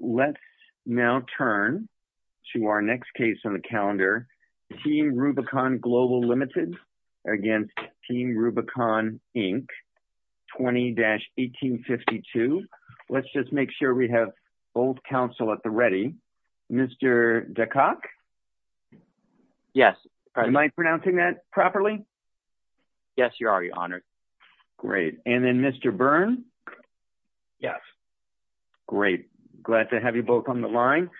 Let's now turn to our next case on the calendar. Team Rubicon Global, Ltd. v. Team Rubicon, Inc. 20-1852. Let's just make sure we have both counsel at the ready. Mr. DeCock? Yes. Am I pronouncing that properly? Yes, you are, Your Honor. Great. And then Mr. Byrne? Yes. Great. Glad to have you both on the line.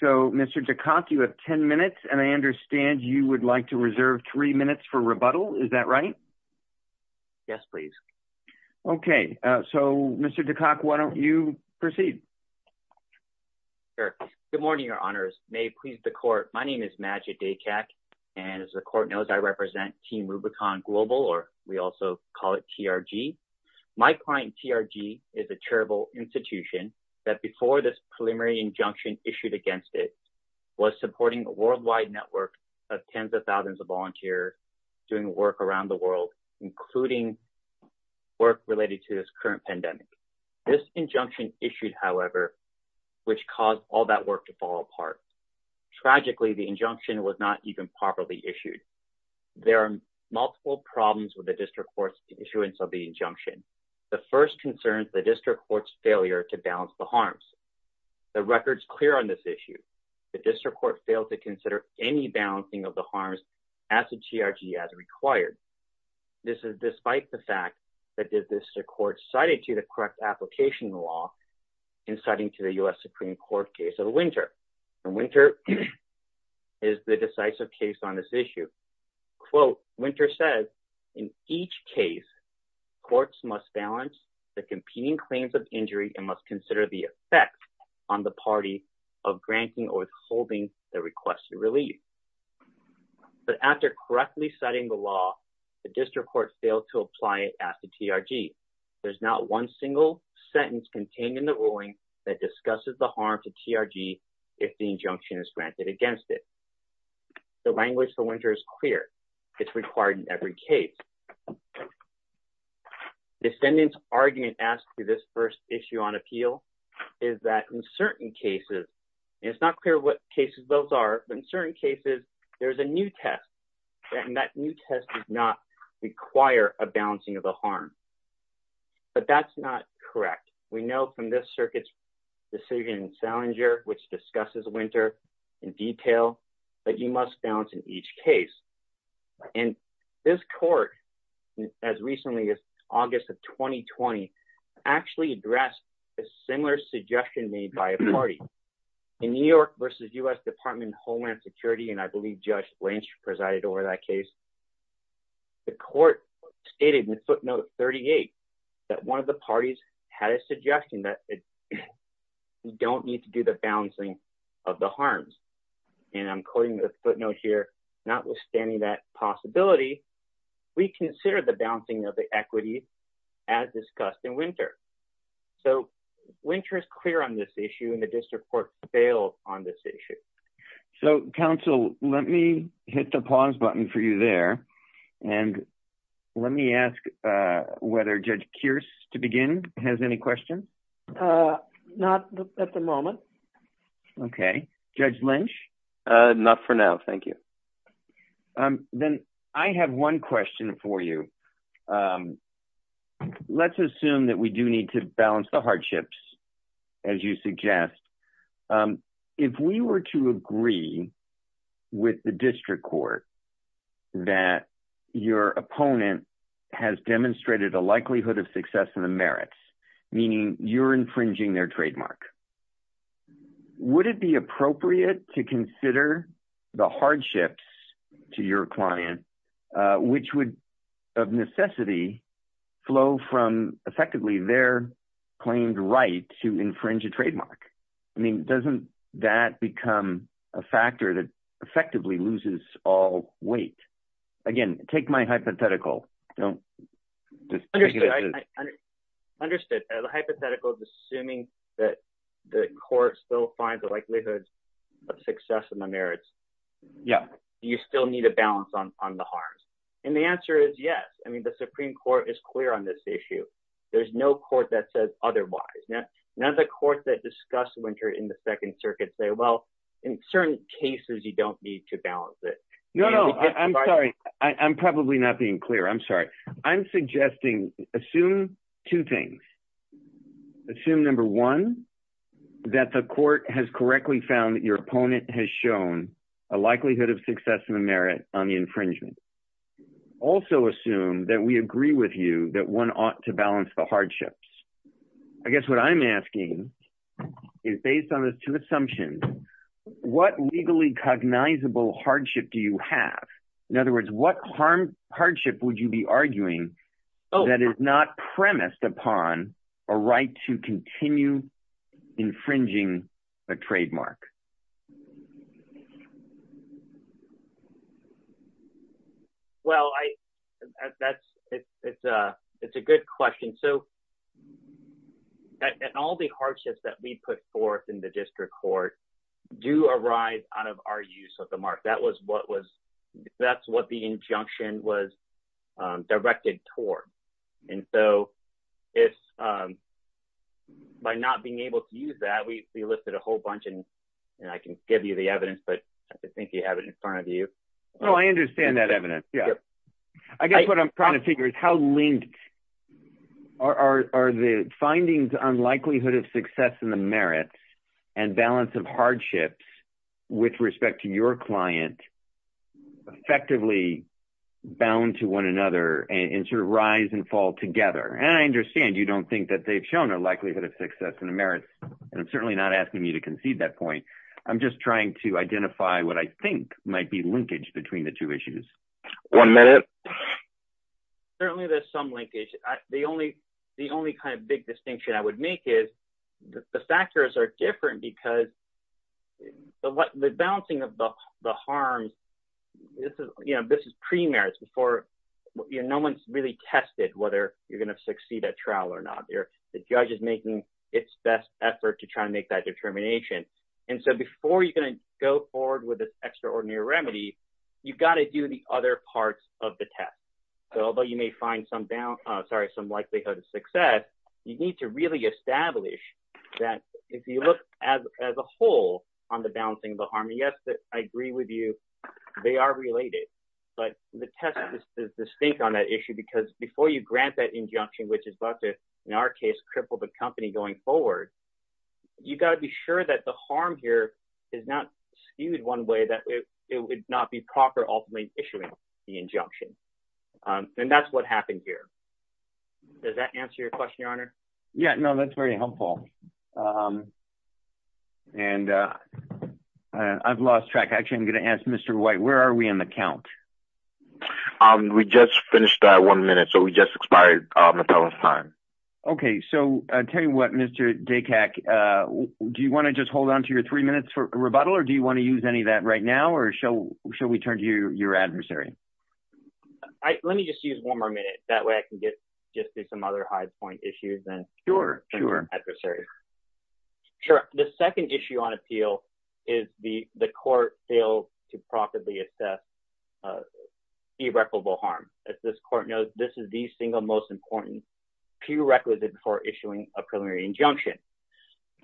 So, Mr. DeCock, you have 10 minutes, and I understand you would like to reserve three minutes for rebuttal. Is that right? Yes, please. Okay. So, Mr. DeCock, why don't you proceed? Sure. Good morning, Your Honors. May it please the Court, my name is Majid Daycak, and as the Court knows, I represent Team Rubicon Global, or we also call it TRG. My client, TRG, is a charitable institution that, before this preliminary injunction issued against it, was supporting a worldwide network of tens of thousands of volunteers doing work around the world, including work related to this current pandemic. This injunction issued, however, which caused all that work to fall apart. Tragically, the injunction was not even properly The first concern is the District Court's failure to balance the harms. The record is clear on this issue. The District Court failed to consider any balancing of the harms as to TRG as required. This is despite the fact that the District Court cited to the correct application law in citing to the U.S. Supreme Court case of Winter. And Winter is the decisive case on this issue. Quote, Winter says, in each case, courts must balance the competing claims of injury and must consider the effect on the party of granting or withholding the requested relief. But after correctly citing the law, the District Court failed to apply it as to TRG. There's not one single sentence contained in the ruling that discusses the harm to TRG if the injunction is granted against it. The language for Winter is clear. It's required in every case. The defendant's argument as to this first issue on appeal is that in certain cases, and it's not clear what cases those are, but in certain cases, there's a new test. And that new test does not require a balancing of the harm. But that's not correct. We know from this circuit's Salinger, which discusses Winter in detail, that you must balance in each case. And this court, as recently as August of 2020, actually addressed a similar suggestion made by a party. In New York v. U.S. Department of Homeland Security, and I believe Judge Lynch presided over that case, the court stated in footnote 38 that one of the parties had a suggestion that you don't need to do the balancing of the harms. And I'm quoting the footnote here, notwithstanding that possibility, we consider the balancing of the equity as discussed in Winter. So Winter is clear on this issue, and the District Court failed on this issue. So, counsel, let me hit the pause button for you there. And let me ask whether Judge Kearse, to begin, has any questions? Not at the moment. Okay. Judge Lynch? Not for now, thank you. Then I have one question for you. Let's assume that we do need to balance the hardships, as you suggest. If we were to agree with the District Court that your opponent has demonstrated a likelihood of success in the merits, meaning you're infringing their trademark, would it be appropriate to consider the hardships to your client, which would, of necessity, flow from, effectively, their claimed right to infringe a trademark? I mean, doesn't that become a factor that effectively loses all weight? Again, take my hypothetical. I understand. The hypothetical is assuming that the court still finds the likelihood of success in the merits. Do you still need a balance on the harms? And the answer is yes. I mean, the Supreme Court is clear on this issue. There's no court that says otherwise. None of the courts that discuss Winter in the Second Circuit say, well, in certain cases, you don't need to balance it. No, no. I'm sorry. I'm probably not being clear. I'm sorry. I'm suggesting, assume two things. Assume, number one, that the court has correctly found that your opponent has shown a likelihood of success in the merit on the infringement. Also assume that we agree with you that one ought to balance the hardships. I guess what I'm asking is, based on those two assumptions, what legally cognizable hardship do you have? In other words, what hardship would you be arguing that is not premised upon a right to continue infringing a trademark? Well, that's, it's a good question. So, and all the hardships that we put forth in the district court do arise out of our use of the mark. That was what was, that's what the injunction was directed toward. And so, it's, by not being able to use that, we listed a whole bunch and I can give you the evidence, but I think you have it in front of you. Oh, I understand that evidence. Yeah. I guess what I'm trying to figure is how linked are the findings on likelihood of success in the merits and balance of hardships with respect to your client effectively bound to one another and sort of rise and fall together? And I understand you don't think that they've shown a likelihood of success in the merits, and I'm certainly not trying to concede that point. I'm just trying to identify what I think might be linkage between the two issues. One minute. Certainly, there's some linkage. The only kind of big distinction I would make is the factors are different because the balancing of the harms, this is, you know, this is pre-merits before, you know, no one's really tested whether you're going to succeed at trial or not. The judge is making its best effort to try and make that determination. And so, before you're going to go forward with this extraordinary remedy, you've got to do the other parts of the test. So, although you may find some likelihood of success, you need to really establish that if you look as a whole on the balancing of the harm, yes, I agree with you, they are related, but the test is distinct on that issue because before you grant that injunction, which is about to, in our case, cripple the company going forward, you've got to be sure that the harm here is not skewed one way that it would not be proper ultimately issuing the injunction. And that's what happened here. Does that answer your question, Your Honor? Yeah, no, that's very helpful. And I've lost track. Actually, I'm going to ask Mr. White, where are we on the count? We just finished that one minute. So, we just expired Mattel's time. Okay. So, I'll tell you what, Mr. Daycock, do you want to just hold on to your three minutes for rebuttal, or do you want to use any of that right now, or shall we turn to your adversary? Let me just use one more minute. That way I can get just to some other high point issues Sure. Sure. The second issue on appeal is the court failed to properly assess irreparable harm. As this court knows, this is the single most important prerequisite for issuing a preliminary injunction.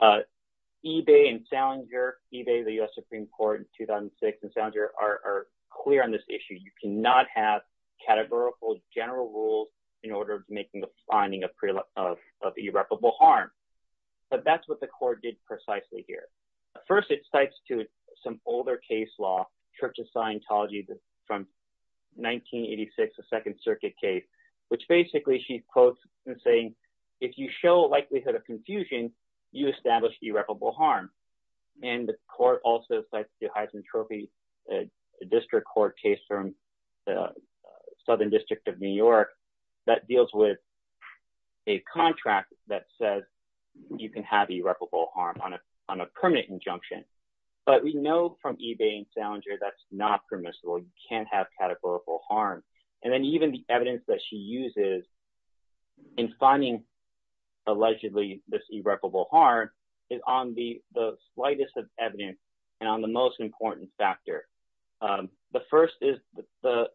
eBay and Salinger, eBay, the U.S. Supreme Court in 2006 and Salinger are clear on this issue. You cannot have categorical general rules in order of making the finding of irreparable harm. But that's what the court did precisely here. First, it cites to some older case law, Church of Scientology from 1986, the Second Circuit case, which basically she quotes and saying, if you show a likelihood of confusion, you establish irreparable harm. And the court also cites the Heisman Trophy District Court case from Southern District of New York that deals with a contract that says you can have irreparable harm on a permanent injunction. But we know from eBay and Salinger that's not permissible. You can't have categorical harm. And then even the evidence that she uses in finding allegedly this irreparable harm is on the slightest of evidence and on the most important factor. The first is the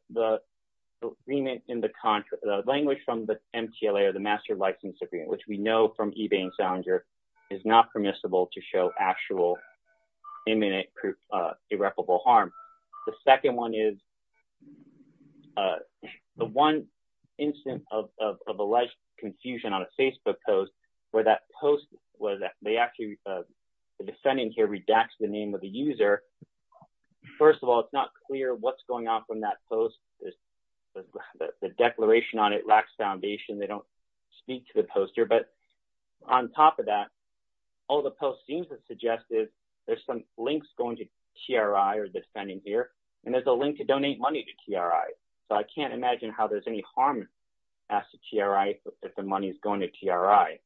agreement in the language from the MTLA or the Master License Agreement, which we know from eBay and Salinger is not permissible to show actual imminent irreparable harm. The second one is the one instance of alleged confusion on a Facebook post where that post was that they actually, the defendant here redacts the name of the user. First of all, it's not clear what's going on from that post. The declaration on it lacks foundation. They don't speak to the poster. But on top of that, all the post seems to suggest is there's some links going to TRI or the defendant here, and there's a link to donate money to TRI. So I can't imagine how there's any harm asked to TRI if the money is going to TRI.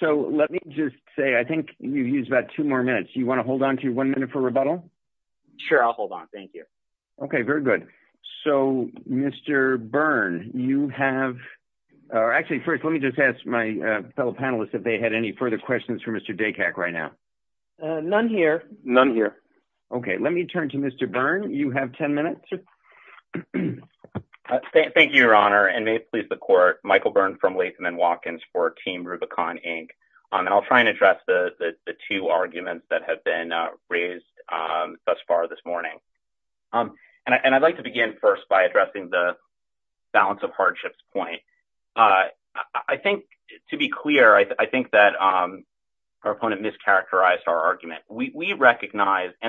So let me just say, I think you've used about two more minutes. You want to hold on to one minute for rebuttal? Sure. I'll hold on. Thank you. Okay. Very good. So Mr. Byrne, you have, or actually first, let me just ask my fellow panelists if they had any further questions for Mr. Daycock right now. None here. None here. Okay. Let me turn to Mr. Byrne. You have 10 minutes. Thank you, Your Honor, and may it please the court. Michael Byrne from Latham & Watkins for Team Rubicon, Inc. And I'll try and address the two arguments that have been raised thus far this morning. And I'd like to begin first by addressing the balance of hardships point. I think, to be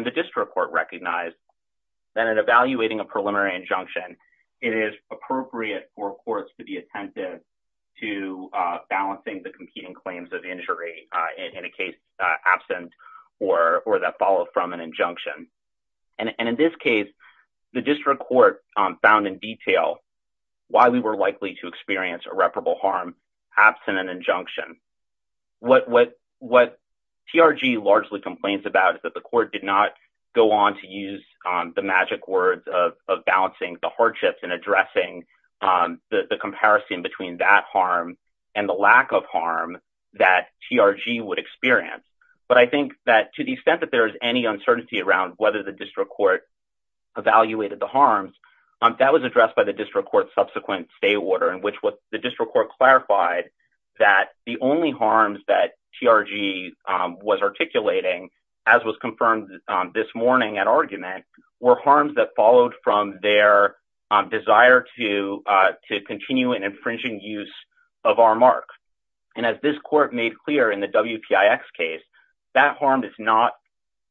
the district court recognized that in evaluating a preliminary injunction, it is appropriate for courts to be attentive to balancing the competing claims of injury in a case absent or that followed from an injunction. And in this case, the district court found in detail why we were likely to experience irreparable harm absent an injunction. What TRG largely complains about is that the court did not go on to use the magic words of balancing the hardships and addressing the comparison between that harm and the lack of harm that TRG would experience. But I think that to the extent that there is any uncertainty around whether the district court evaluated the harms, that was addressed by the district court's subsequent stay order in which the district court clarified that the only harms that TRG was articulating, as was confirmed this morning at argument, were harms that followed from their desire to continue an infringing use of our mark. And as this court made clear in the WPIX case, that harm is not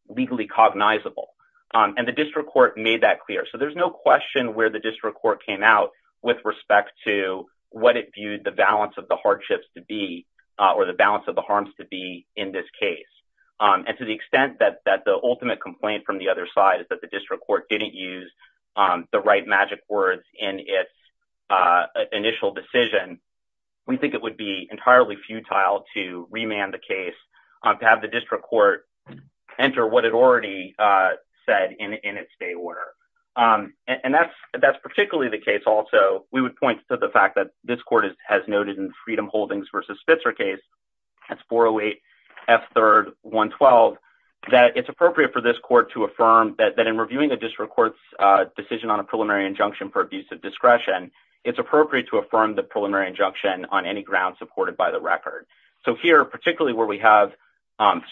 legally cognizable. And the district court made that clear. So there's no question where the district court came out with respect to what it to be or the balance of the harms to be in this case. And to the extent that the ultimate complaint from the other side is that the district court didn't use the right magic words in its initial decision, we think it would be entirely futile to remand the case to have the district court enter what it already said in its stay order. And that's particularly the case also, we would point to the fact that this court has noted in Freedom Holdings versus Spitzer case, that's 408 F3rd 112, that it's appropriate for this court to affirm that in reviewing the district court's decision on a preliminary injunction for abusive discretion, it's appropriate to affirm the preliminary injunction on any ground supported by the record. So here, particularly where we have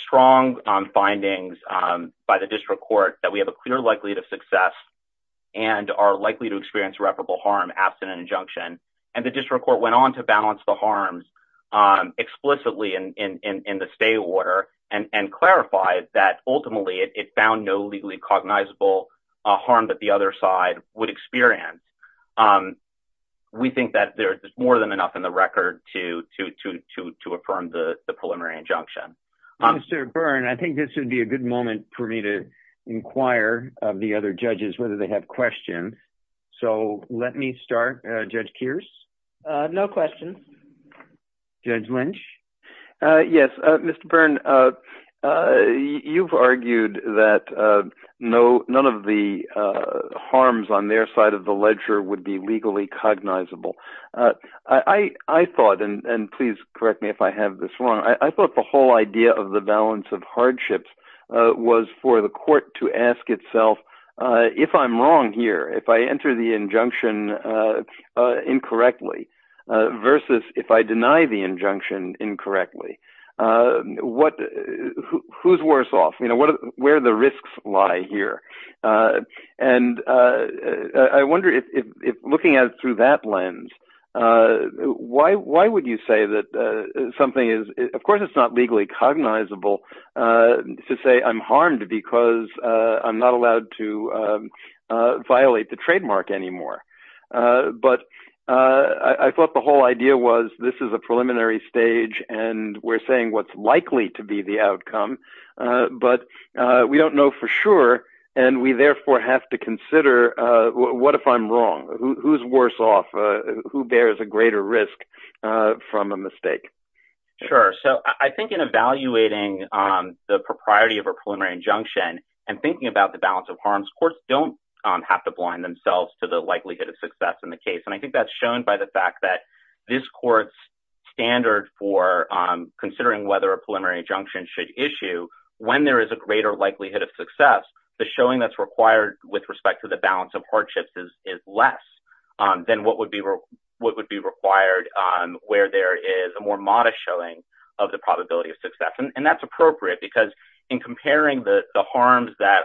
strong findings by the district court that we have a clear likelihood of success and are likely to experience reputable harm after an injunction, and the district court went on to balance the harms explicitly in the stay order and clarify that ultimately it found no legally cognizable harm that the other side would experience. We think that there's more than enough in the record to affirm the preliminary injunction. Mr. Byrne, I think this would be a moment for me to inquire of the other judges whether they have questions. So let me start, Judge Kearse. No questions. Judge Lynch. Yes, Mr. Byrne, you've argued that none of the harms on their side of the ledger would be legally cognizable. I thought, and please correct me if I have this wrong, I thought the whole idea of the balance of hardships was for the court to ask itself, if I'm wrong here, if I enter the injunction incorrectly versus if I deny the injunction incorrectly, who's worse off? You know, where the risks lie here? And I wonder if looking at it that lens, why would you say that something is, of course it's not legally cognizable, to say I'm harmed because I'm not allowed to violate the trademark anymore. But I thought the whole idea was this is a preliminary stage, and we're saying what's likely to be the outcome, but we don't know for sure, and we therefore have to consider what if I'm wrong? Who's worse off? Who bears a greater risk from a mistake? Sure. So I think in evaluating the propriety of a preliminary injunction and thinking about the balance of harms, courts don't have to blind themselves to the likelihood of success in the case. And I think that's shown by the fact that this court's standard for considering whether a preliminary injunction should issue, when there is a greater likelihood of success, the showing that's required with respect to the balance of hardships is less than what would be required where there is a more modest showing of the probability of success. And that's appropriate because in comparing the harms that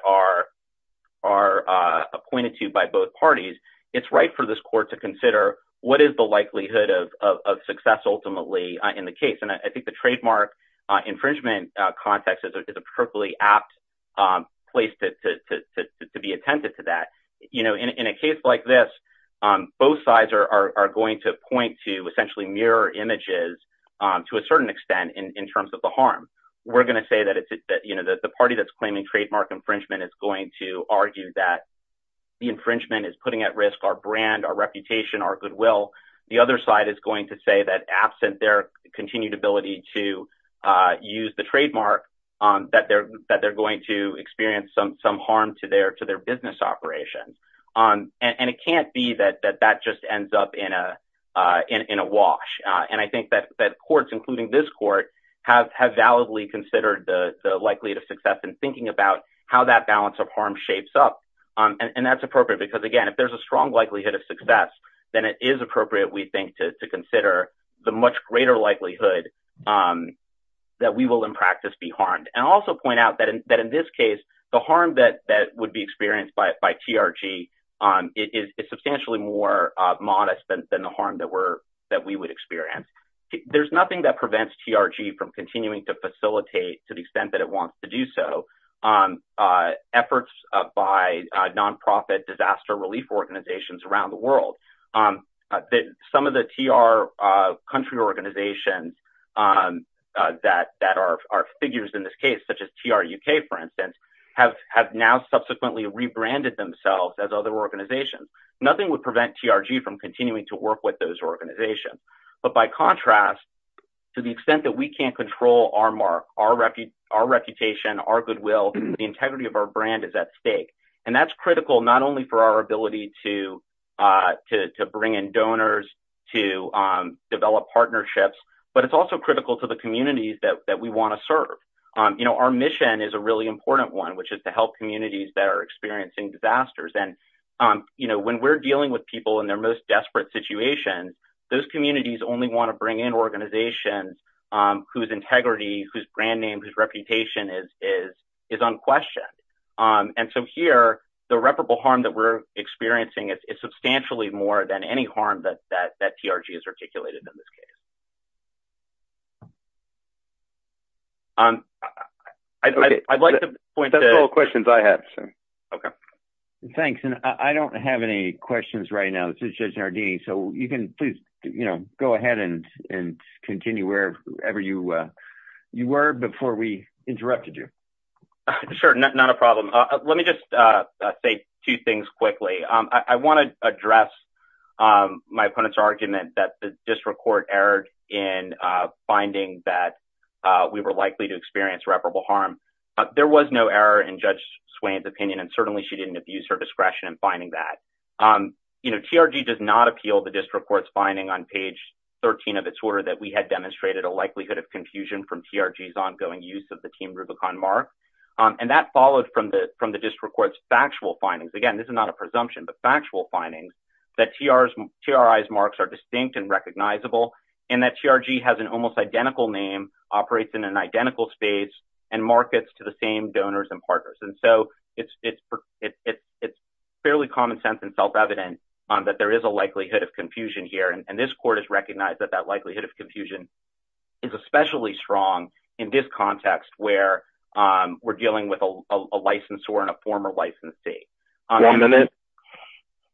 are appointed to by both parties, it's right for this court to consider what is the likelihood of success ultimately in the case. And I think the trademark infringement context is a particularly apt place to be attentive to that. In a case like this, both sides are going to point to essentially mirror images to a certain extent in terms of the harm. We're going to say that the party that's claiming trademark infringement is going to argue that the infringement is putting at risk our brand, our reputation, our goodwill. The other side is going to say that absent their continued ability to use the trademark, that they're going to experience some harm to their business operation. And it can't be that that just ends up in a wash. And I think that courts, including this court, have validly considered the likelihood of success in thinking about how that balance of harm shapes up. And that's appropriate because, again, if there's a strong likelihood of success, then it is appropriate, we think, to consider the much greater likelihood that we will in practice be harmed. And I'll also point out that in this case, the harm that would be experienced by TRG is substantially more modest than the harm that we would experience. There's nothing that prevents TRG from continuing to facilitate to the extent it wants to do so efforts by non-profit disaster relief organizations around the world. Some of the TR country organizations that are figures in this case, such as TRUK, for instance, have now subsequently rebranded themselves as other organizations. Nothing would prevent TRG from continuing to work with those organizations. But by contrast, to the extent that we can't our reputation, our goodwill, the integrity of our brand is at stake. And that's critical not only for our ability to bring in donors, to develop partnerships, but it's also critical to the communities that we want to serve. Our mission is a really important one, which is to help communities that are experiencing disasters. And when we're dealing with people in their most desperate situation, those communities only want to bring in organizations whose integrity, whose brand name, whose reputation is unquestioned. And so here, the reputable harm that we're experiencing is substantially more than any harm that TRG has articulated in this case. I'd like to point to... Those are all questions I have, sir. Okay. Thanks. And I don't have any questions right now. This is Judge Nardini. So you can please go ahead and continue wherever you were before we interrupted you. Sure. Not a problem. Let me just say two things quickly. I want to address my opponent's argument that the district court erred in finding that we were likely to experience reputable harm. There was no error in Judge Swain's opinion, and certainly she didn't abuse her discretion in finding that. TRG does not appeal the district court's finding on page 13 of its order that we had demonstrated a likelihood of confusion from TRG's ongoing use of the Team Rubicon mark. And that followed from the district court's factual findings. Again, this is not a presumption, but factual findings that TRI's marks are distinct and recognizable, and that TRG has an almost identical name, operates in an identical space, and markets to the same donors and partners. So it's fairly common sense and self-evident that there is a likelihood of confusion here, and this court has recognized that that likelihood of confusion is especially strong in this context where we're dealing with a licensor and a former licensee. One minute.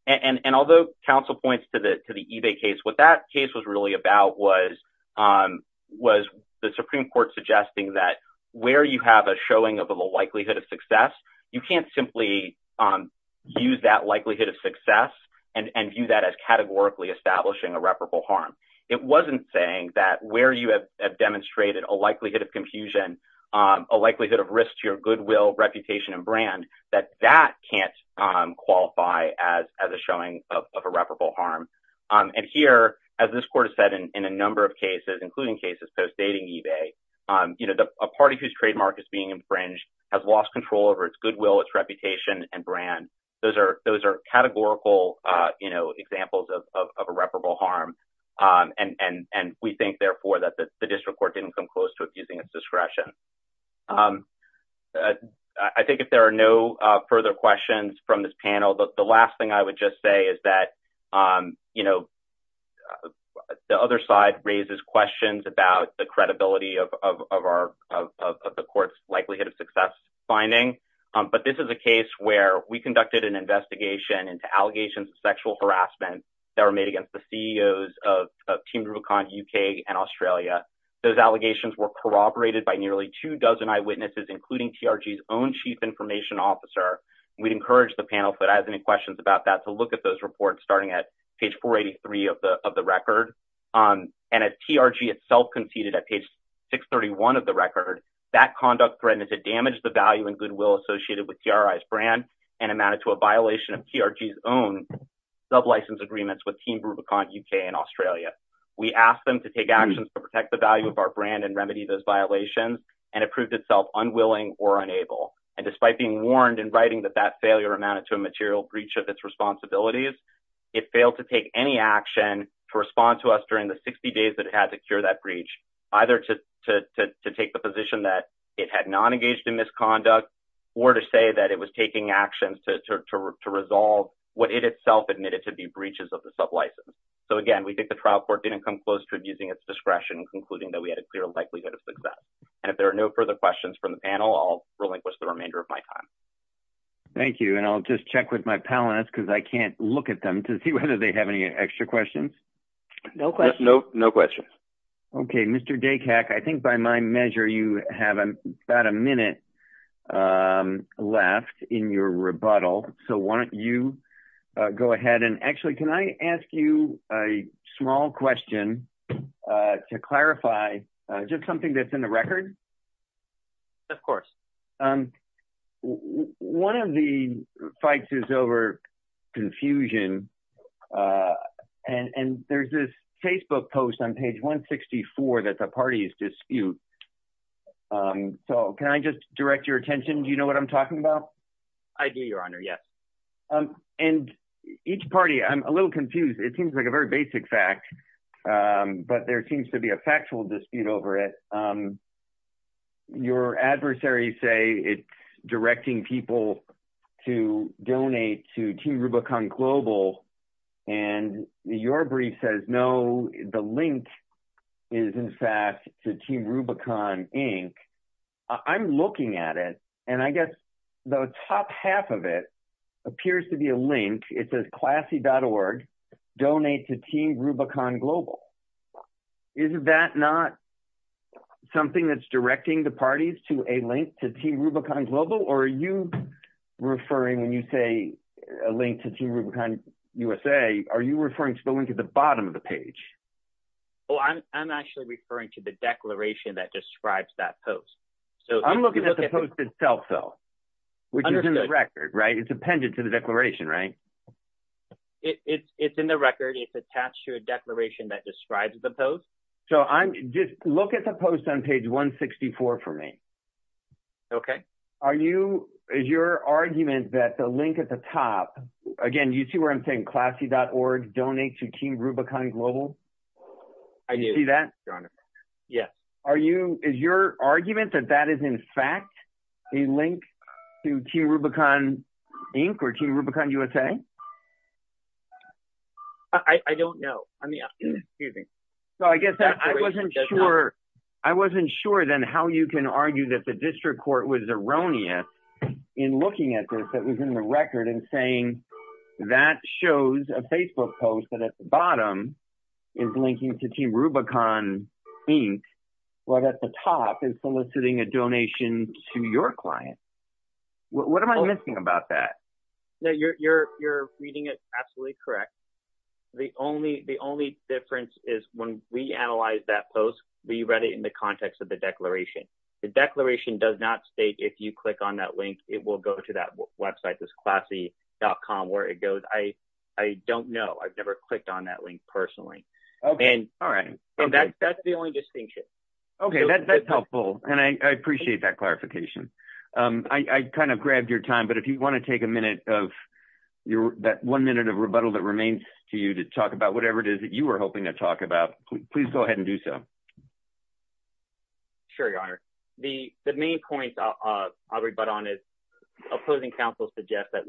And although counsel points to the eBay case, what that case was really about was the Supreme Court suggesting that where you have a showing of a likelihood of success, you can't simply use that likelihood of success and view that as categorically establishing a reputable harm. It wasn't saying that where you have demonstrated a likelihood of confusion, a likelihood of risk to your goodwill, reputation, and brand, that that can't qualify as a showing of a reputable harm. And here, as this court has said in a number of cases, including cases post-dating eBay, a party whose trademark is being infringed has lost control over its goodwill, its reputation, and brand. Those are categorical examples of a reputable harm. And we think, therefore, that the district court didn't come close to abusing its discretion. I think if there are no further questions from this panel, the last thing I would just say is that the other side raises questions about the credibility of the court's likelihood of success finding. But this is a case where we conducted an investigation into allegations of sexual harassment that were made against the CEOs of Team Rubicon UK and Australia. Those allegations were corroborated by nearly two dozen eyewitnesses, including TRG's own chief information officer. We'd encourage the panel, if it has any questions about that, to look at those reports, starting at page 483 of the record. And as TRG itself conceded at page 631 of the record, that conduct threatened to damage the value and goodwill associated with TRI's brand and amounted to a violation of TRG's own sub-license agreements with Team Rubicon UK and Australia. We asked them to take actions to protect the value of our brand and remedy those violations, and it proved itself unwilling or unable. And despite being warned in writing that that failure amounted to a material breach of its responsibilities, it failed to take any action to respond to us during the 60 days that it had to cure that breach, either to take the position that it had not engaged in misconduct or to say that it was taking actions to resolve what it itself admitted to be breaches of the sub-license. So again, we think the trial court didn't come close to abusing its discretion, concluding that we had a clear likelihood of success. And if there are no further questions from the panel, I'll relinquish the remainder of my time. Thank you. And I'll just check with my panelists because I can't look at them to see whether they have any extra questions. No, no, no questions. Okay, Mr. Dacak, I think by my measure, you have about a minute left in your rebuttal. So why don't you go ahead and actually can I ask you a small question to clarify just something that's in the record? Of course. One of the fights is over confusion. And there's this Facebook post on page 164 that the parties dispute. So can I just direct your attention? Do you know what I'm talking about? I do, Your Honor. Yes. And each party, I'm a little confused. It seems like a very basic fact. But there seems to be a factual dispute over it. Your adversaries say it's directing people to donate to Team Rubicon Global. And your brief says, no, the link is in fact to Team Rubicon Inc. I'm looking at it. And I guess the top half of it appears to be a link. It says classy.org, donate to Team Rubicon Global. Is that not something that's directing the parties to a link to Team Rubicon Global? Or are you referring when you say a link to Team Rubicon USA? Are you referring to the link at the bottom of the page? Oh, I'm actually referring to the declaration that describes that post. So I'm looking at the post itself, though, which is in the record, right? It's appended to the record. It's attached to a declaration that describes the post. So just look at the post on page 164 for me. Okay. Is your argument that the link at the top, again, you see where I'm saying classy.org, donate to Team Rubicon Global? I do. You see that? Your Honor. Yeah. Is your argument that that is in fact a link to Team Rubicon Inc. or Team Rubicon USA? I don't know. I mean, excuse me. So I guess I wasn't sure. I wasn't sure then how you can argue that the district court was erroneous in looking at this that was in the record and saying that shows a Facebook post that at the bottom is linking to Team Rubicon Inc. while at the top is soliciting a donation to your client. What am I missing about that? No, you're reading it absolutely correct. The only difference is when we analyzed that post, we read it in the context of the declaration. The declaration does not state if you click on that link, it will go to that website, this classy.com, where it goes. I don't know. I've never clicked on that link personally. Okay. All right. And that's the only distinction. Okay. That's helpful. And I appreciate that clarification. I kind of grabbed your time, but if you want to take a minute of that one minute of rebuttal that remains to you to talk about whatever it is that you were hoping to talk about, please go ahead and do so. Sure, Your Honor. The main point I'll rebut on is opposing counsel suggests that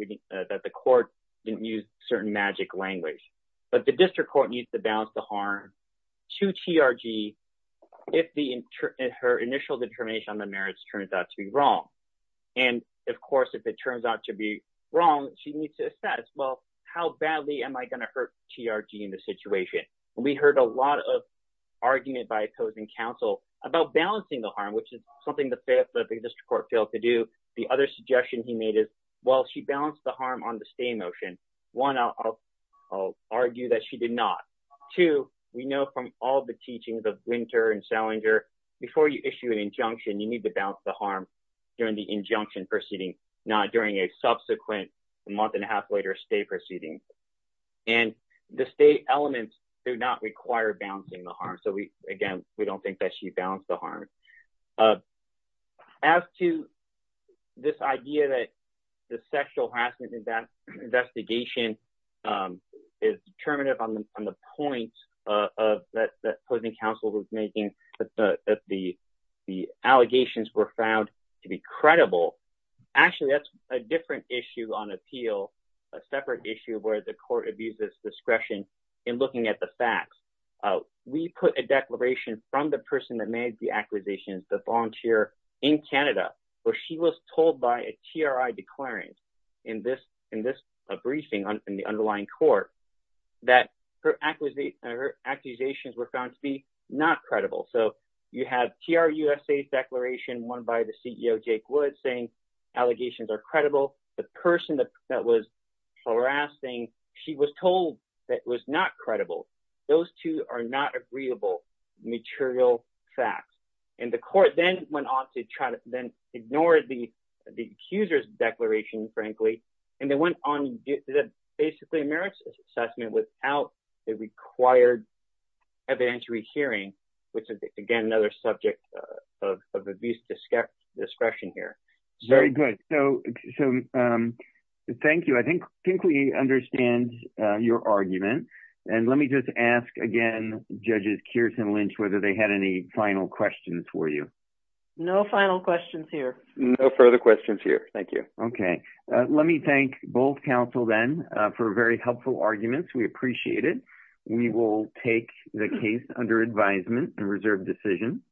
the court didn't use certain magic language, but the district court needs to balance the harm to TRG if her initial determination on the merits turns out to be wrong. And of course, if it turns out to be wrong, she needs to assess, well, how badly am I going to hurt TRG in this situation? And we heard a lot of argument by opposing counsel about balancing the harm, which is something the district court failed to do. The other suggestion he made is, well, she balanced the harm on the stay motion. One, I'll argue that she did not. Two, we know from all the teachings of Winter and Salinger, before you issue an injunction, you need to injunction proceeding, not during a subsequent month and a half later stay proceeding. And the stay elements do not require balancing the harm. So again, we don't think that she balanced the harm. As to this idea that the sexual harassment in that investigation is determinative on the points that opposing counsel was making, that the allegations were found to be credible. Actually, that's a different issue on appeal, a separate issue where the court abuses discretion in looking at the facts. We put a declaration from the person that made the acquisitions, the volunteer in Canada, where she was told by a TRI declarant in this briefing in the underlying court that her acquisitions were found to be not credible. So you have TRUSA's declaration, one by the CEO, Jake Woods, saying allegations are credible. The person that was harassing, she was told that it was not credible. Those two are not agreeable material facts. And the court then went on to try to then ignore the accuser's declaration, frankly, and they went on basically merits assessment without a required evidentiary hearing, which is, again, another subject of abuse discretion here. Very good. So thank you. I think we understand your argument. And let me just ask again, Judges Kearse and Lynch, whether they had any final questions for you. No final questions here. No further questions here. Thank you. Okay. Let me thank both counsel then for very helpful arguments. We appreciate it. We will take the case under advisement and reserve decision.